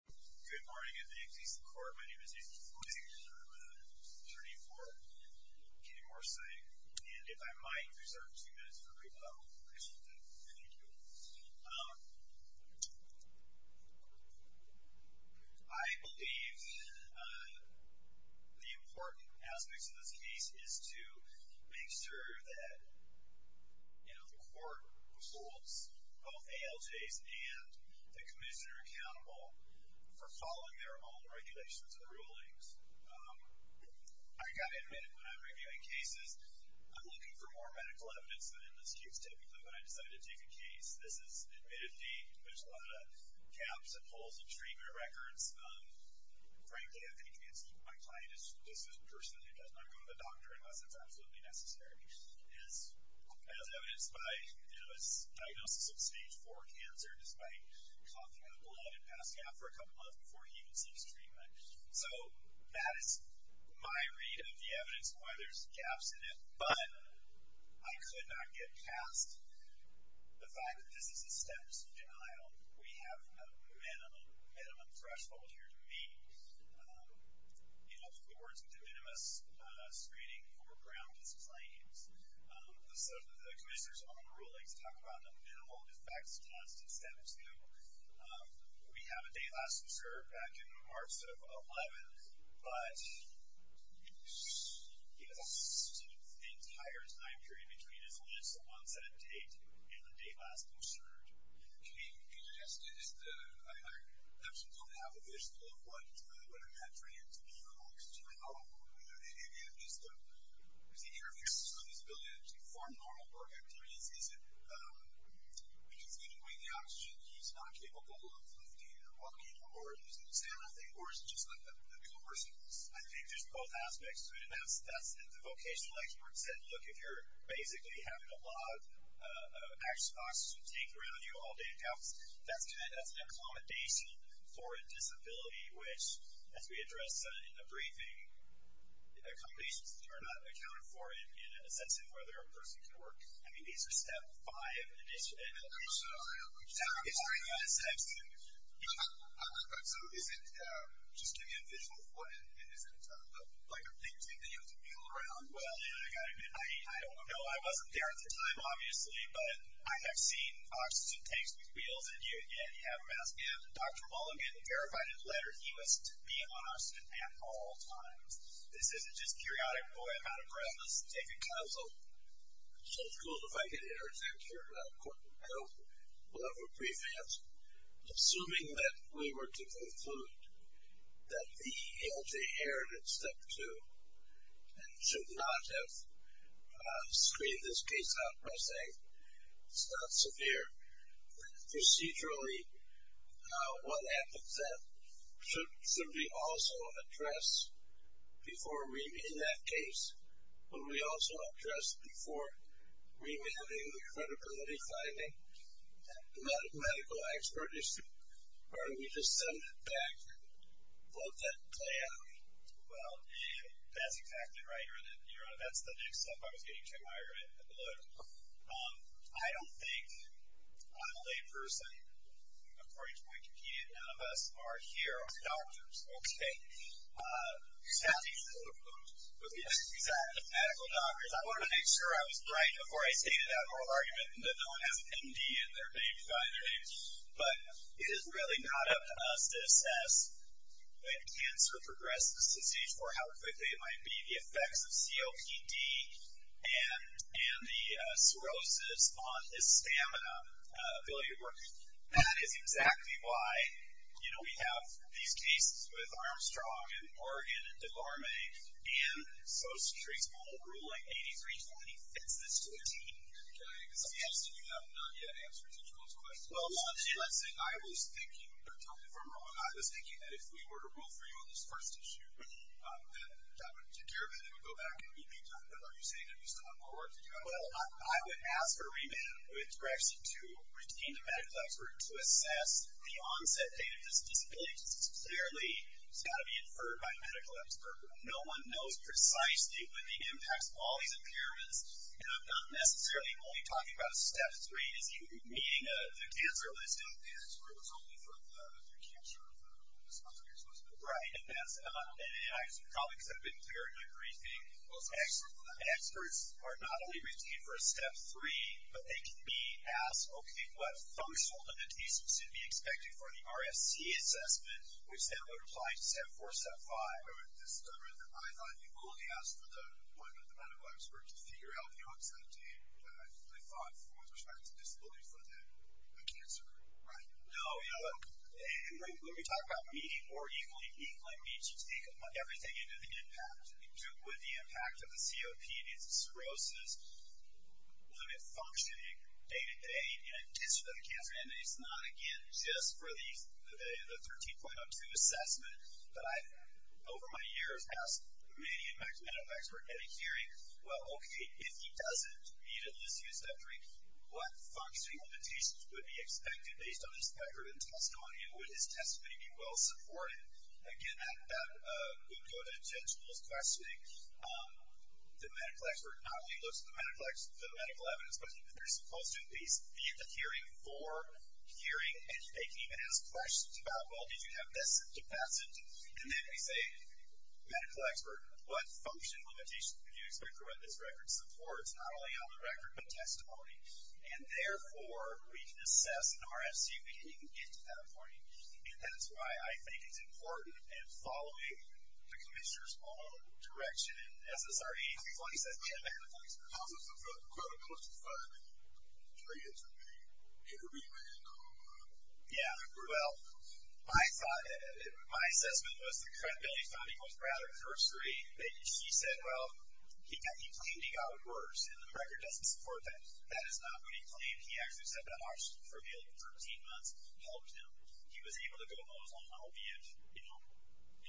Good morning and good day to the court. My name is David Fleming. I'm an attorney for Kenny Morsea. And if I might reserve two minutes for a brief comment. I believe the important aspects of this case is to make sure that the court holds both ALJs and the commissioner accountable. For following their own regulations and rulings. I've got to admit, when I'm reviewing cases, I'm looking for more medical evidence than an excuse typically when I decide to take a case. This is admittedly, there's a lot of caps and pulls and treatment records. Frankly, I think my client is a person who does not go to the doctor unless it's absolutely necessary. As evidenced by the diagnosis of stage 4 cancer, despite coughing up blood and passing out for a couple of months before he even sees treatment. So, that is my read of the evidence and why there's caps in it. But, I could not get past the fact that this is a stem cell trial. We have a minimum threshold here to meet. In other words, the minimum screening for groundless claims. The commissioner's own ruling to talk about the minimal effects test in step 2. We have a date last observed back in March of 11th. But, he has a sort of entire time period between his last onset date and the date last observed. Can you suggest, I actually don't have a visual of what I'm entering into being on oxygen. I don't know if the interviewer has the ability to actually form normal work activities. Is it, in a way, the oxygen he's not capable of lifting or walking or he's going to say anything? Or, is it just like the commercials? I think there's both aspects to it. The vocational expert said, look, if you're basically having a lot of oxygen taken around you all day and counts, that's an accommodation for a disability which, as we addressed in the briefing, accommodations are not accounted for in a sense of whether a person can work. I mean, these are step 5. So, is it, just give me a visual of what it is. Is it like a big thing that you have to wheel around? Well, I don't know. I wasn't there at the time, obviously. But, I have seen oxygen tanks being wheeled and you have a mask. And, Dr. Mulligan verified in a letter he was to be on oxygen at all times. This isn't just periodic, boy, I'm out of breath. Let's take a couple. So, it's cool if I can interject here. I don't have a preface. Assuming that we were to conclude that the LG inherited step 2 and should not have screened this case out by saying it's not severe, procedurally what happens then should simply also address before we, in that case, what we also addressed before remanding the credibility finding, the medical expertise, or do we just send it back and vote that plan? Well, that's exactly right. That's the next step I was getting to admire in the letter. I don't think a lay person, according to Wikipedia, none of us are here are doctors. Okay. Exactly, medical doctors. I wanted to make sure I was right before I stated that moral argument that no one has MD in their name, by the way. But, it is really not up to us to assess when cancer progresses to stage 4 how quickly it might be the effects of COPD and the cirrhosis on his stamina ability to work. That is exactly why, you know, we have these cases with Armstrong and Oregon and Laramie and Social Security's old ruling, 8320, fits this to a T. Okay. It seems that you have not yet answered each of those questions. Well, let's say I was thinking, you're talking from Rome, I was thinking that if we were to rule for you on this first issue, that that would take care of it if you go back and repeat it. Are you saying that you still have more work to do? Well, I would ask for a remit with direction to retain the medical expert to assess the onset date of this disability, because it's clearly it's got to be inferred by a medical expert. No one knows precisely what the impacts of all these impairments, and I'm not necessarily only talking about step 3, as you would be meeting the cancer list. The cancer list was only for the cancer of the sponsor you're supposed to be. Right. And I probably could have been clear in my briefing, the experts are not only retained for a step 3, but they can be asked, okay, what threshold of adhesives should be expected for the RFC assessment, which then would apply to step 4, step 5. I thought you only asked for the appointment of the medical expert to figure out the onset date, but I thought with respect to disability for the cancer group, right? No. When we talk about meeting more equally, equally means you take everything into the impact. Would the impact of the COPD and cirrhosis limit functioning day-to-day in addition to the cancer? And it's not, again, just for the 13.02 assessment, but I, over my years, have asked many of my medical experts at a hearing, well, okay, if he doesn't meet at least a step 3, what functioning limitations would be expected based on his background and testimony, and would his testimony be well-supported? Again, that would go to judge Will's questioning. The medical expert not only looks at the medical evidence, but they're supposed to at least be at the hearing for hearing, and they can even ask questions about, well, did you have this to pass it? And then we say, medical expert, what function limitations would you expect for what this record supports, not only on the record, but testimony? And, therefore, we can assess an RFC meeting and get to that point. And that's why I think it's important, and following the commissioner's own direction and SSRE, he's the one who says, yeah, medical expert. How does the credibility finding translate to the intervening medical? Yeah. Well, my assessment was the credibility finding was rather cursory. He said, well, he claimed he got worse, and the record doesn't support that. That is not what he claimed. He actually said that oxygen for nearly 13 months helped him. He was able to go home. He was on an opiate.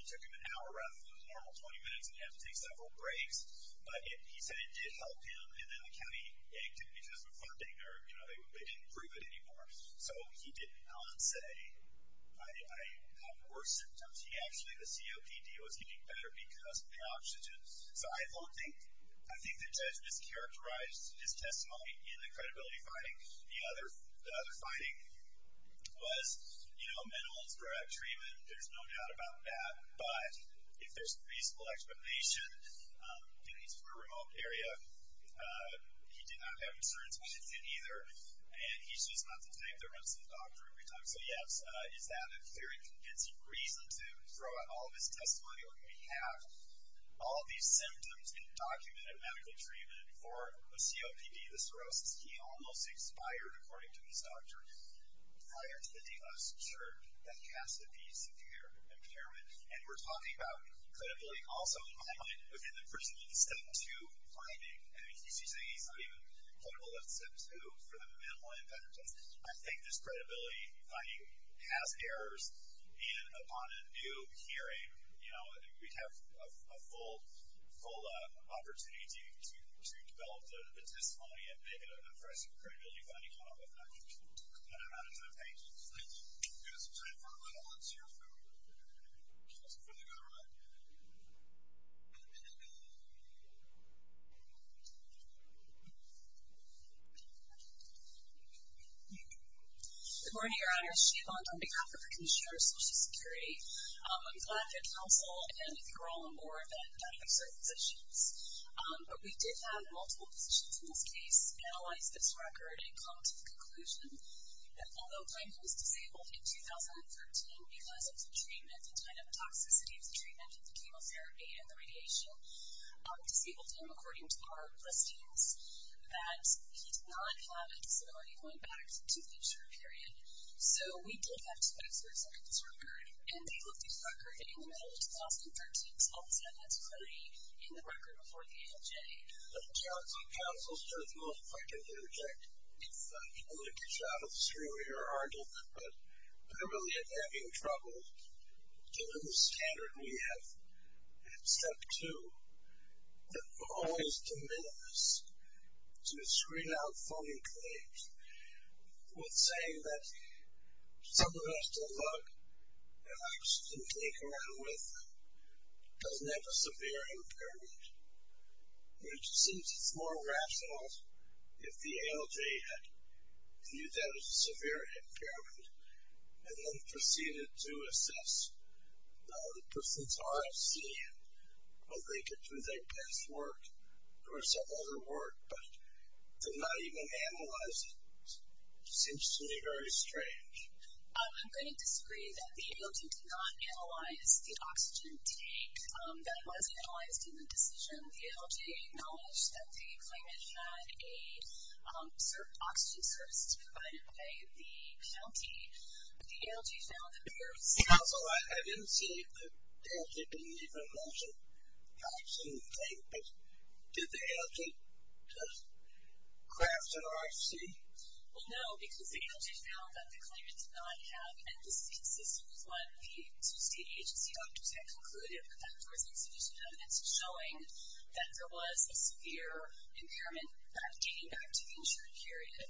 It took him an hour rather than the normal 20 minutes, and he had to take several breaks. But he said it did help him, and then the county acted because of funding, or they didn't approve it anymore. So he did not say, I have worse symptoms. He actually, the COPD was getting better because of the oxygen. So I don't think the judge mischaracterized his testimony in the credibility finding. The other finding was, you know, mental and thoracic treatment, there's no doubt about that. But if there's reasonable explanation, and he's from a remote area, he did not have insurance with it either, and he's just not the type that runs to the doctor every time. So, yes, is that a very convincing reason to throw out all of his testimony or do we have all of these symptoms in documented medical treatment for a COPD, the cirrhosis? He almost expired, according to his doctor, prior to the DOS chart. That has to be severe impairment. And we're talking about credibility also, in my mind, within the personal step two finding. I mean, he's not even critical of step two for the mental and thoracic test. I think this credibility finding has errors, and upon a new hearing, you know, we'd have a full opportunity to develop the testimony and make it an impressive credibility finding, but I don't know how to do the pages. Thank you. We have some time for one more. Let's hear from the other one. Good morning, Your Honor. Sheevan Dandekar from the Commission on Social Security. I'm glad to counsel and withdraw more than a number of certain positions, but we did have multiple positions in this case, analyzed this record, and come to the conclusion that, although Dandekar was disabled in 2013 because of the treatment, the kind of toxicity of the treatment, the chemotherapy, and the radiation, we disabled him according to our listings, that he did not have a disability going back to the future period. So, we did have two experts look at this record, and they looked at the record in the middle of 2013, so all of a sudden that's a credit in the record before the AMJ. I don't know if I can interject. I'm going to get you out of the screen reader argument, but I really am having trouble dealing with the standard we have in step two that will always demand us to screen out phony claims with saying that someone who has to look and actually think around with doesn't have a severe impairment, which seems more rational if the ALJ had viewed that as a severe impairment and then proceeded to assess the person's RFC and whether they could do their best work or some other work, but did not even analyze it. It seems to me very strange. I'm going to disagree that the ALJ did not analyze the oxygen tank that was analyzed in the decision. The ALJ acknowledged that the claimant had a certain oxygen source provided by the county, but the ALJ found that there was no... Also, I didn't see that the ALJ didn't even mention the oxygen tank, but did the ALJ just craft an RFC? Well, no, because the ALJ found that the claimant did not have, and this is consistent with what the state agency doctors had concluded with the outdoors institution evidence, showing that there was a severe impairment dating back to the insurance period.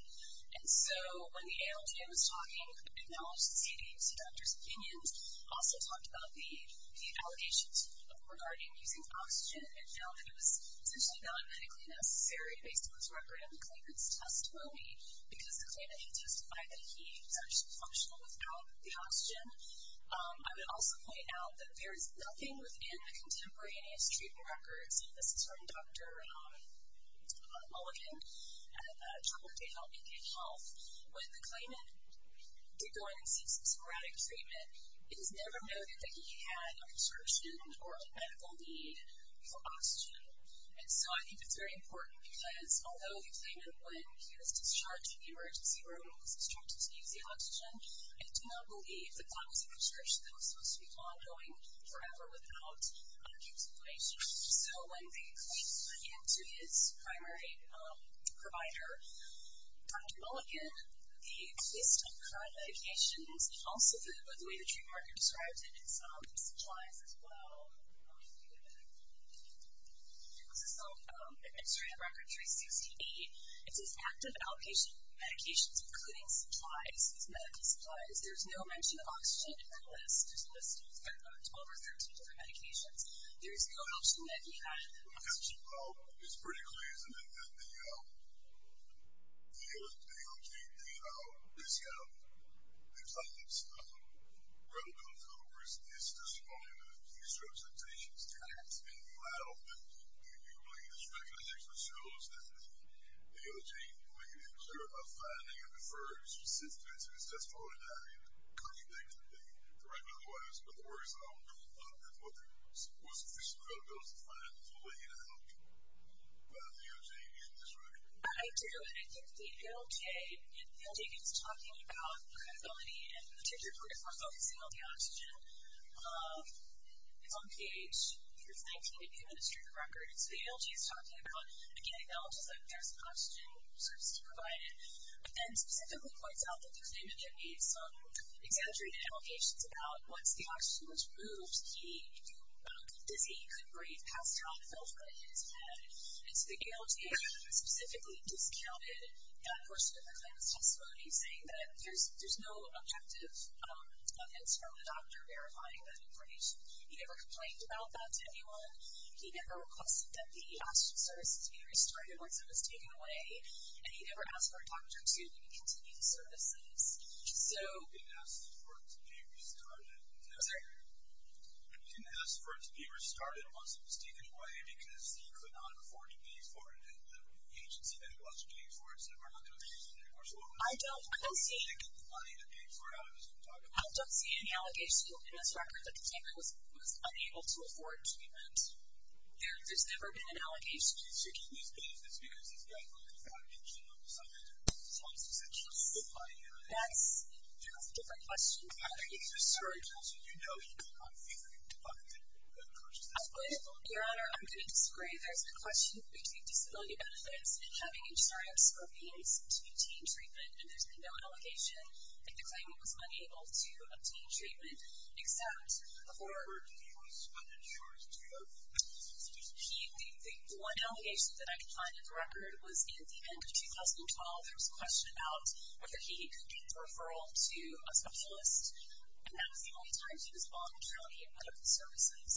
And so when the ALJ was talking, it acknowledged the state agency doctor's opinions, also talked about the allegations regarding using oxygen and found that it was essentially not medically necessary, based on this record of the claimant's test phobia, because the claimant had testified that he was actually functional without the oxygen. I would also point out that there is nothing within the contemporaneous treatment records, and this is from Dr. Mulligan at Troubled Gay Health and Gay Health. When the claimant did go in and seek some sporadic treatment, it was never noted that he had a prescription or a medical need for oxygen. And so I think it's very important, because although the claimant, when he was discharged from the emergency room, was instructed to use the oxygen, I do not believe that that was a prescription that was supposed to be ongoing forever without explanation. So when the claimant went in to his primary provider, Dr. Mulligan, within the list of current medications, and also the way the trademarker described it in some supplies as well, this is from the administrative record 360E, it says active outpatient medications, including supplies, medical supplies. There's no mention of oxygen in that list. There's a list of 12 or 13 different medications. There is no mention that he had oxygen. It's pretty clear, isn't it, that the DOJ, the Department of Health and Human Services, is describing that these representations have been filed, and Dr. Mulligan's recommendation shows that the DOJ may be concerned about finding a preferred substance, and it's just part of that. I mean, couldn't they directly or otherwise, I don't know, that Dr. Mulligan was officially going to go through and find a way to help the DOJ in this record? I do, and I think the ALJ, if the ALJ is talking about credibility and particularly if we're focusing on the oxygen, it's on page 19 of the administrative record. So the ALJ is talking about, again, acknowledging that there's oxygen services provided, and specifically points out that the claimant had made some exaggerated allegations about once the oxygen was removed, he did not get dizzy, couldn't breathe, passed out, and fell flat on his head. And so the ALJ specifically discounted that portion of the claimant's testimony, saying that there's no objective evidence from the doctor verifying that information. He never complained about that to anyone. He never requested that the oxygen services be restarted once it was taken away, and he never asked for a doctor to continue the services. He didn't ask for it to be restarted. I'm sorry? He didn't ask for it to be restarted once it was taken away, because he could not afford to pay for it, and the agency that was paying for it said, we're not going to take it anymore, so we'll remove it. I don't see any allegations in this record that the claimant was unable to afford treatment. There's never been an allegation. He's seeking this business because he's got, like, That's a different question. I think he's a surgeon, so you know he did not favor the department that purchased this. Your Honor, I'm going to disagree. There's a question between disability benefits and having insurance for means to obtain treatment, and there's been no allegation that the claimant was unable to obtain treatment, except for the one allegation that I can find in the record, was in the end of 2012, there was a question about whether he could get a referral to a specialist, and that was the only time he was called to county medical services.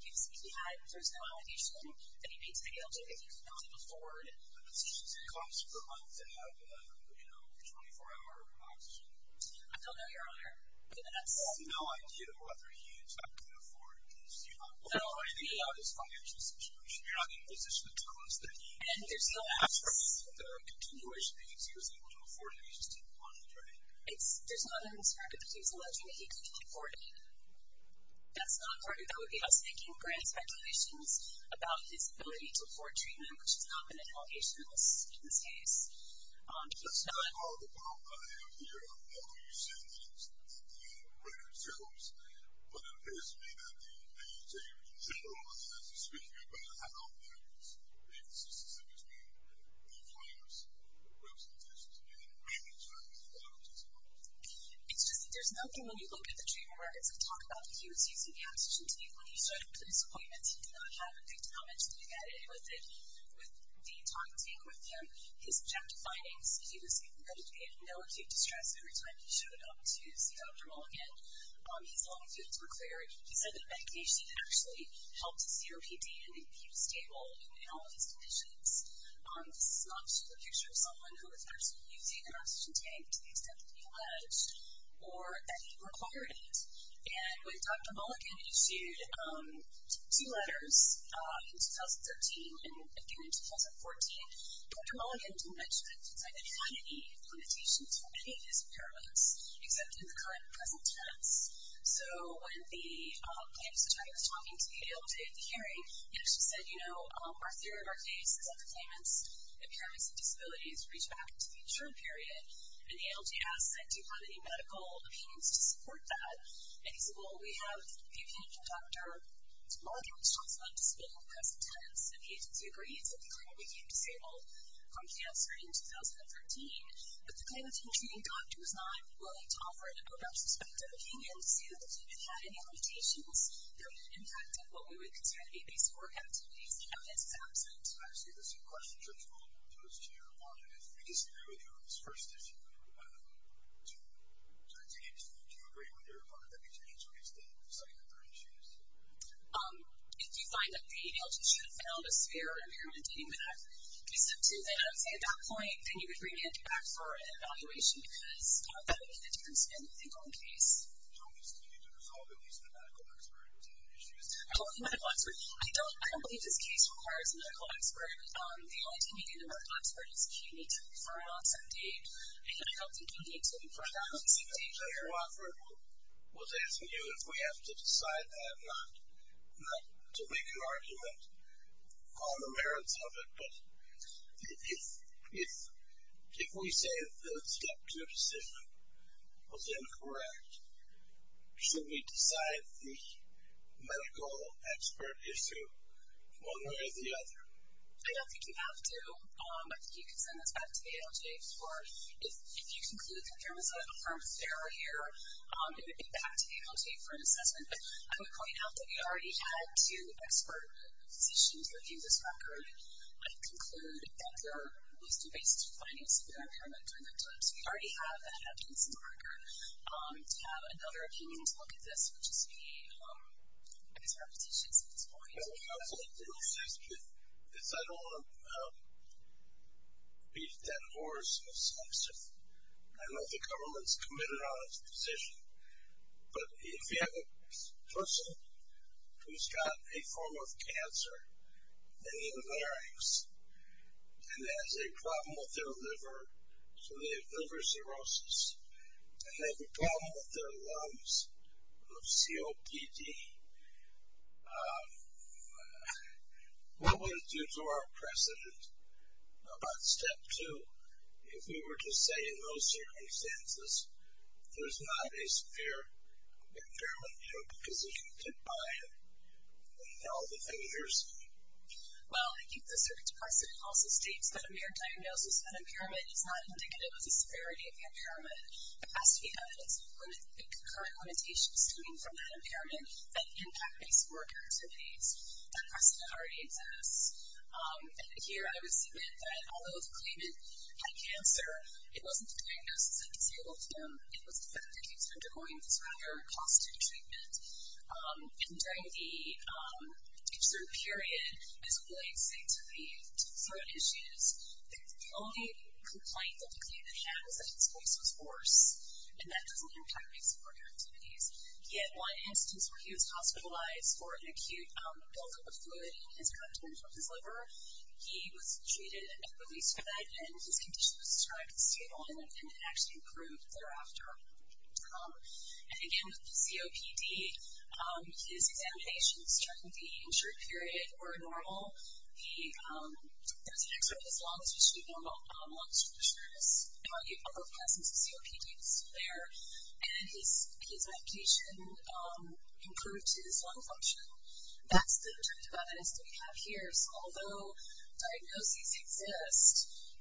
He was speaking out, and there's no allegation that he paid to be able to, if he could not afford it. The physician said it costs per month to have a, you know, 24-hour oxygen. I don't know, Your Honor, but that's. There's no idea whether he is able to afford it, because you're not in a financial situation. You're not in a position to tell us that he. And there's no ask for. The continuation that you'd say he was able to afford it, he just didn't want it, right? There's no evidence for it, but the case alleges that he couldn't afford it. That's not part of it. That would be us making grand speculations about his ability to afford treatment, which has not been an allegation in this case. That's not all the problem I have here. I know you said things that the record shows, but it appears to me that the judge in general has to speak about how he was using the oxygen table when he started his appointment. He did not have a big comment to make at any of it. With Dean talking with him, his subjective findings, he was in no acute distress every time he showed up to see Dr. Mulligan. His longitudes were clear. He said that medication actually helped his COPD, and he was able to afford it. This is not just a picture of someone who was actually using an oxygen tank to the extent that he alleged or that he required it. And when Dr. Mulligan issued two letters in 2013 and again in 2014, Dr. Mulligan mentioned that he had any limitations for any of his impairments except in the current present tense. So when the plaintiff's attorney was talking to him the day of the hearing, our theory of our case is that the claimant's impairments and disabilities reach back into the interim period, and the ALGS said do you have any medical opinions to support that? And he said, well, we have a viewpoint from Dr. Mulligan, which talks about disability in the present tense, and the agency agrees that the claimant became disabled from cancer in 2013. But the claimant, including the doctor, was not willing to offer an appropriate perspective, being able to say that the claimant had any limitations that would impact what we would consider to be basic work activities. And this is absent. I see. This is a question for both of those two. One, if we disagree with you on this first issue, do you agree with your opponent that we should introduce the study that they're introducing? If you find that the ALGS should have found a severe impairment dating back at least up to then, I would say at that point, then you would bring it back for an evaluation, because that would make the difference in the legal case. Don't we still need to resolve at least the medical expert? Was that an issue? I don't believe this case requires a medical expert. The only thing you need in a medical expert is a kidney for an onset date. And I don't think you need to for an onset date. I was asking you if we have to decide that, not to make an argument on the merits of it. But if we say the step two decision was incorrect, should we decide the medical expert issue one way or the other? I don't think you have to. I think you can send this back to ALJ for, if you conclude that there was an affirmed failure, it would be back to ALJ for an assessment. But I would point out that we already had two expert positions looking at this record. I would conclude that there was two based findings that were determined during that time. So we already have evidence in the record. To have another opinion to look at this, which is the expert positions at this point. I don't want to beat that horse. I know the government is committed on its position. But if you have a person who's got a form of cancer in the larynx and has a problem with their liver, so they have liver cirrhosis, and they have a problem with their lungs of COPD, what would it do to our precedent about step two if we were to say in those circumstances there's not a severe impairment because you can identify it and tell the fingers? Well, I think the circuit to precedent also states that a mere diagnosis of an impairment is not indicative of the severity of the impairment. It has to be evidence of current limitations coming from that impairment that impact these work activities that precedent already exists. And here I would submit that although the claimant had cancer, it wasn't the diagnosis that disabled him. It was the fact that he was undergoing this rather costly treatment. And during the cancer period, as William said, to the throat issues, the only complaint that the claimant has is that his voice was hoarse, and that doesn't impact his work activities. Yet one instance where he was hospitalized for an acute buildup of fluid in his content of his liver, he was treated and released from that, and his condition was described as stable, and it actually improved thereafter. And, again, with the COPD, his examinations during the injury period were normal. There was an extra bit of lung tissue, normal lung structures, among the other presence of COPDs there, and his medication improved his lung function. That's the objective evidence that we have here. So although diagnoses exist,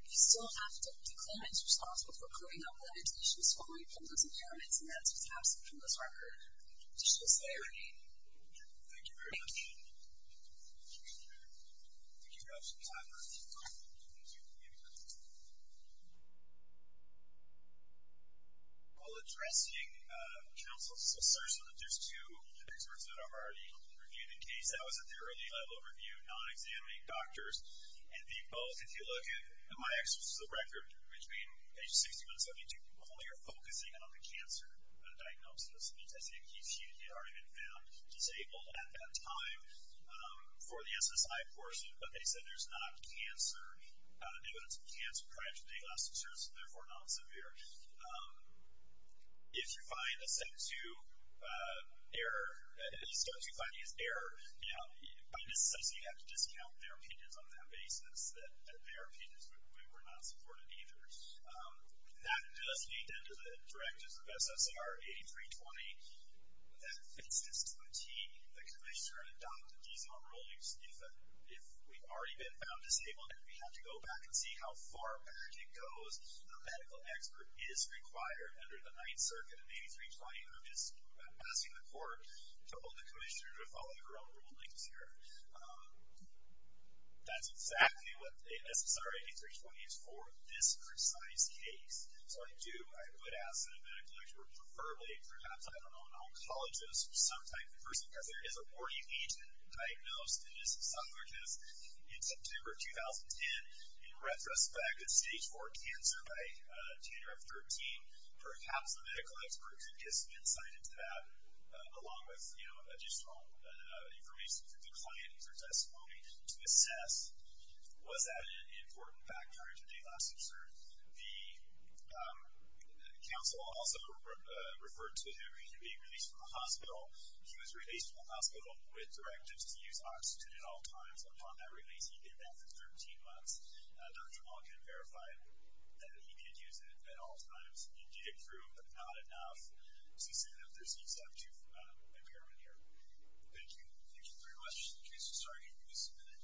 we still have to declare as responsible for coding out limitations for all of those impairments, and that's what's absent from this record. That's just my opinion. Thank you very much. Thank you. Thank you for your time. While addressing counsel's assertion that there's two experts that are already reviewed in case, that was at their early level of review, non-examining doctors, and the both, if you look at my access to the record, which being page 61 and 72, only are focusing on the cancer diagnosis. That means I think he's already been found disabled at that time for the SSI portion, but they said there's not evidence of cancer prior to the last assertion, therefore not severe. If you find a step two error, a step two finding is error, by necessity you have to discount their opinions on that basis, that their opinions were not supported either. That does lead then to the directives of SSR 8320, that fits this to a T, the commissioner adopted these on rulings, if we've already been found disabled and we have to go back and see how far back it goes, a medical expert is required under the Ninth Circuit in 8320, who is asking the court to hold the commissioner to follow her own rulings here. That's exactly what SSR 8320 is for this precise case. So I do, I would ask that a medical expert, preferably, perhaps I don't know, an oncologist, some type of person, because there is a warning agent diagnosed in September 2010, in retrospect, a stage four cancer by January 13, perhaps a medical expert could give some insight into that, along with additional information for the client and for testimony to assess was that an important factor prior to the last assert? He was released from the hospital with directives to use oxytocin at all times. Upon that release, he did that for 13 months. Dr. Malkin verified that he could use it at all times. He did approve, but not enough. So he said that there's use up to impairment here. Thank you. Thank you very much. The case is starting in just a minute.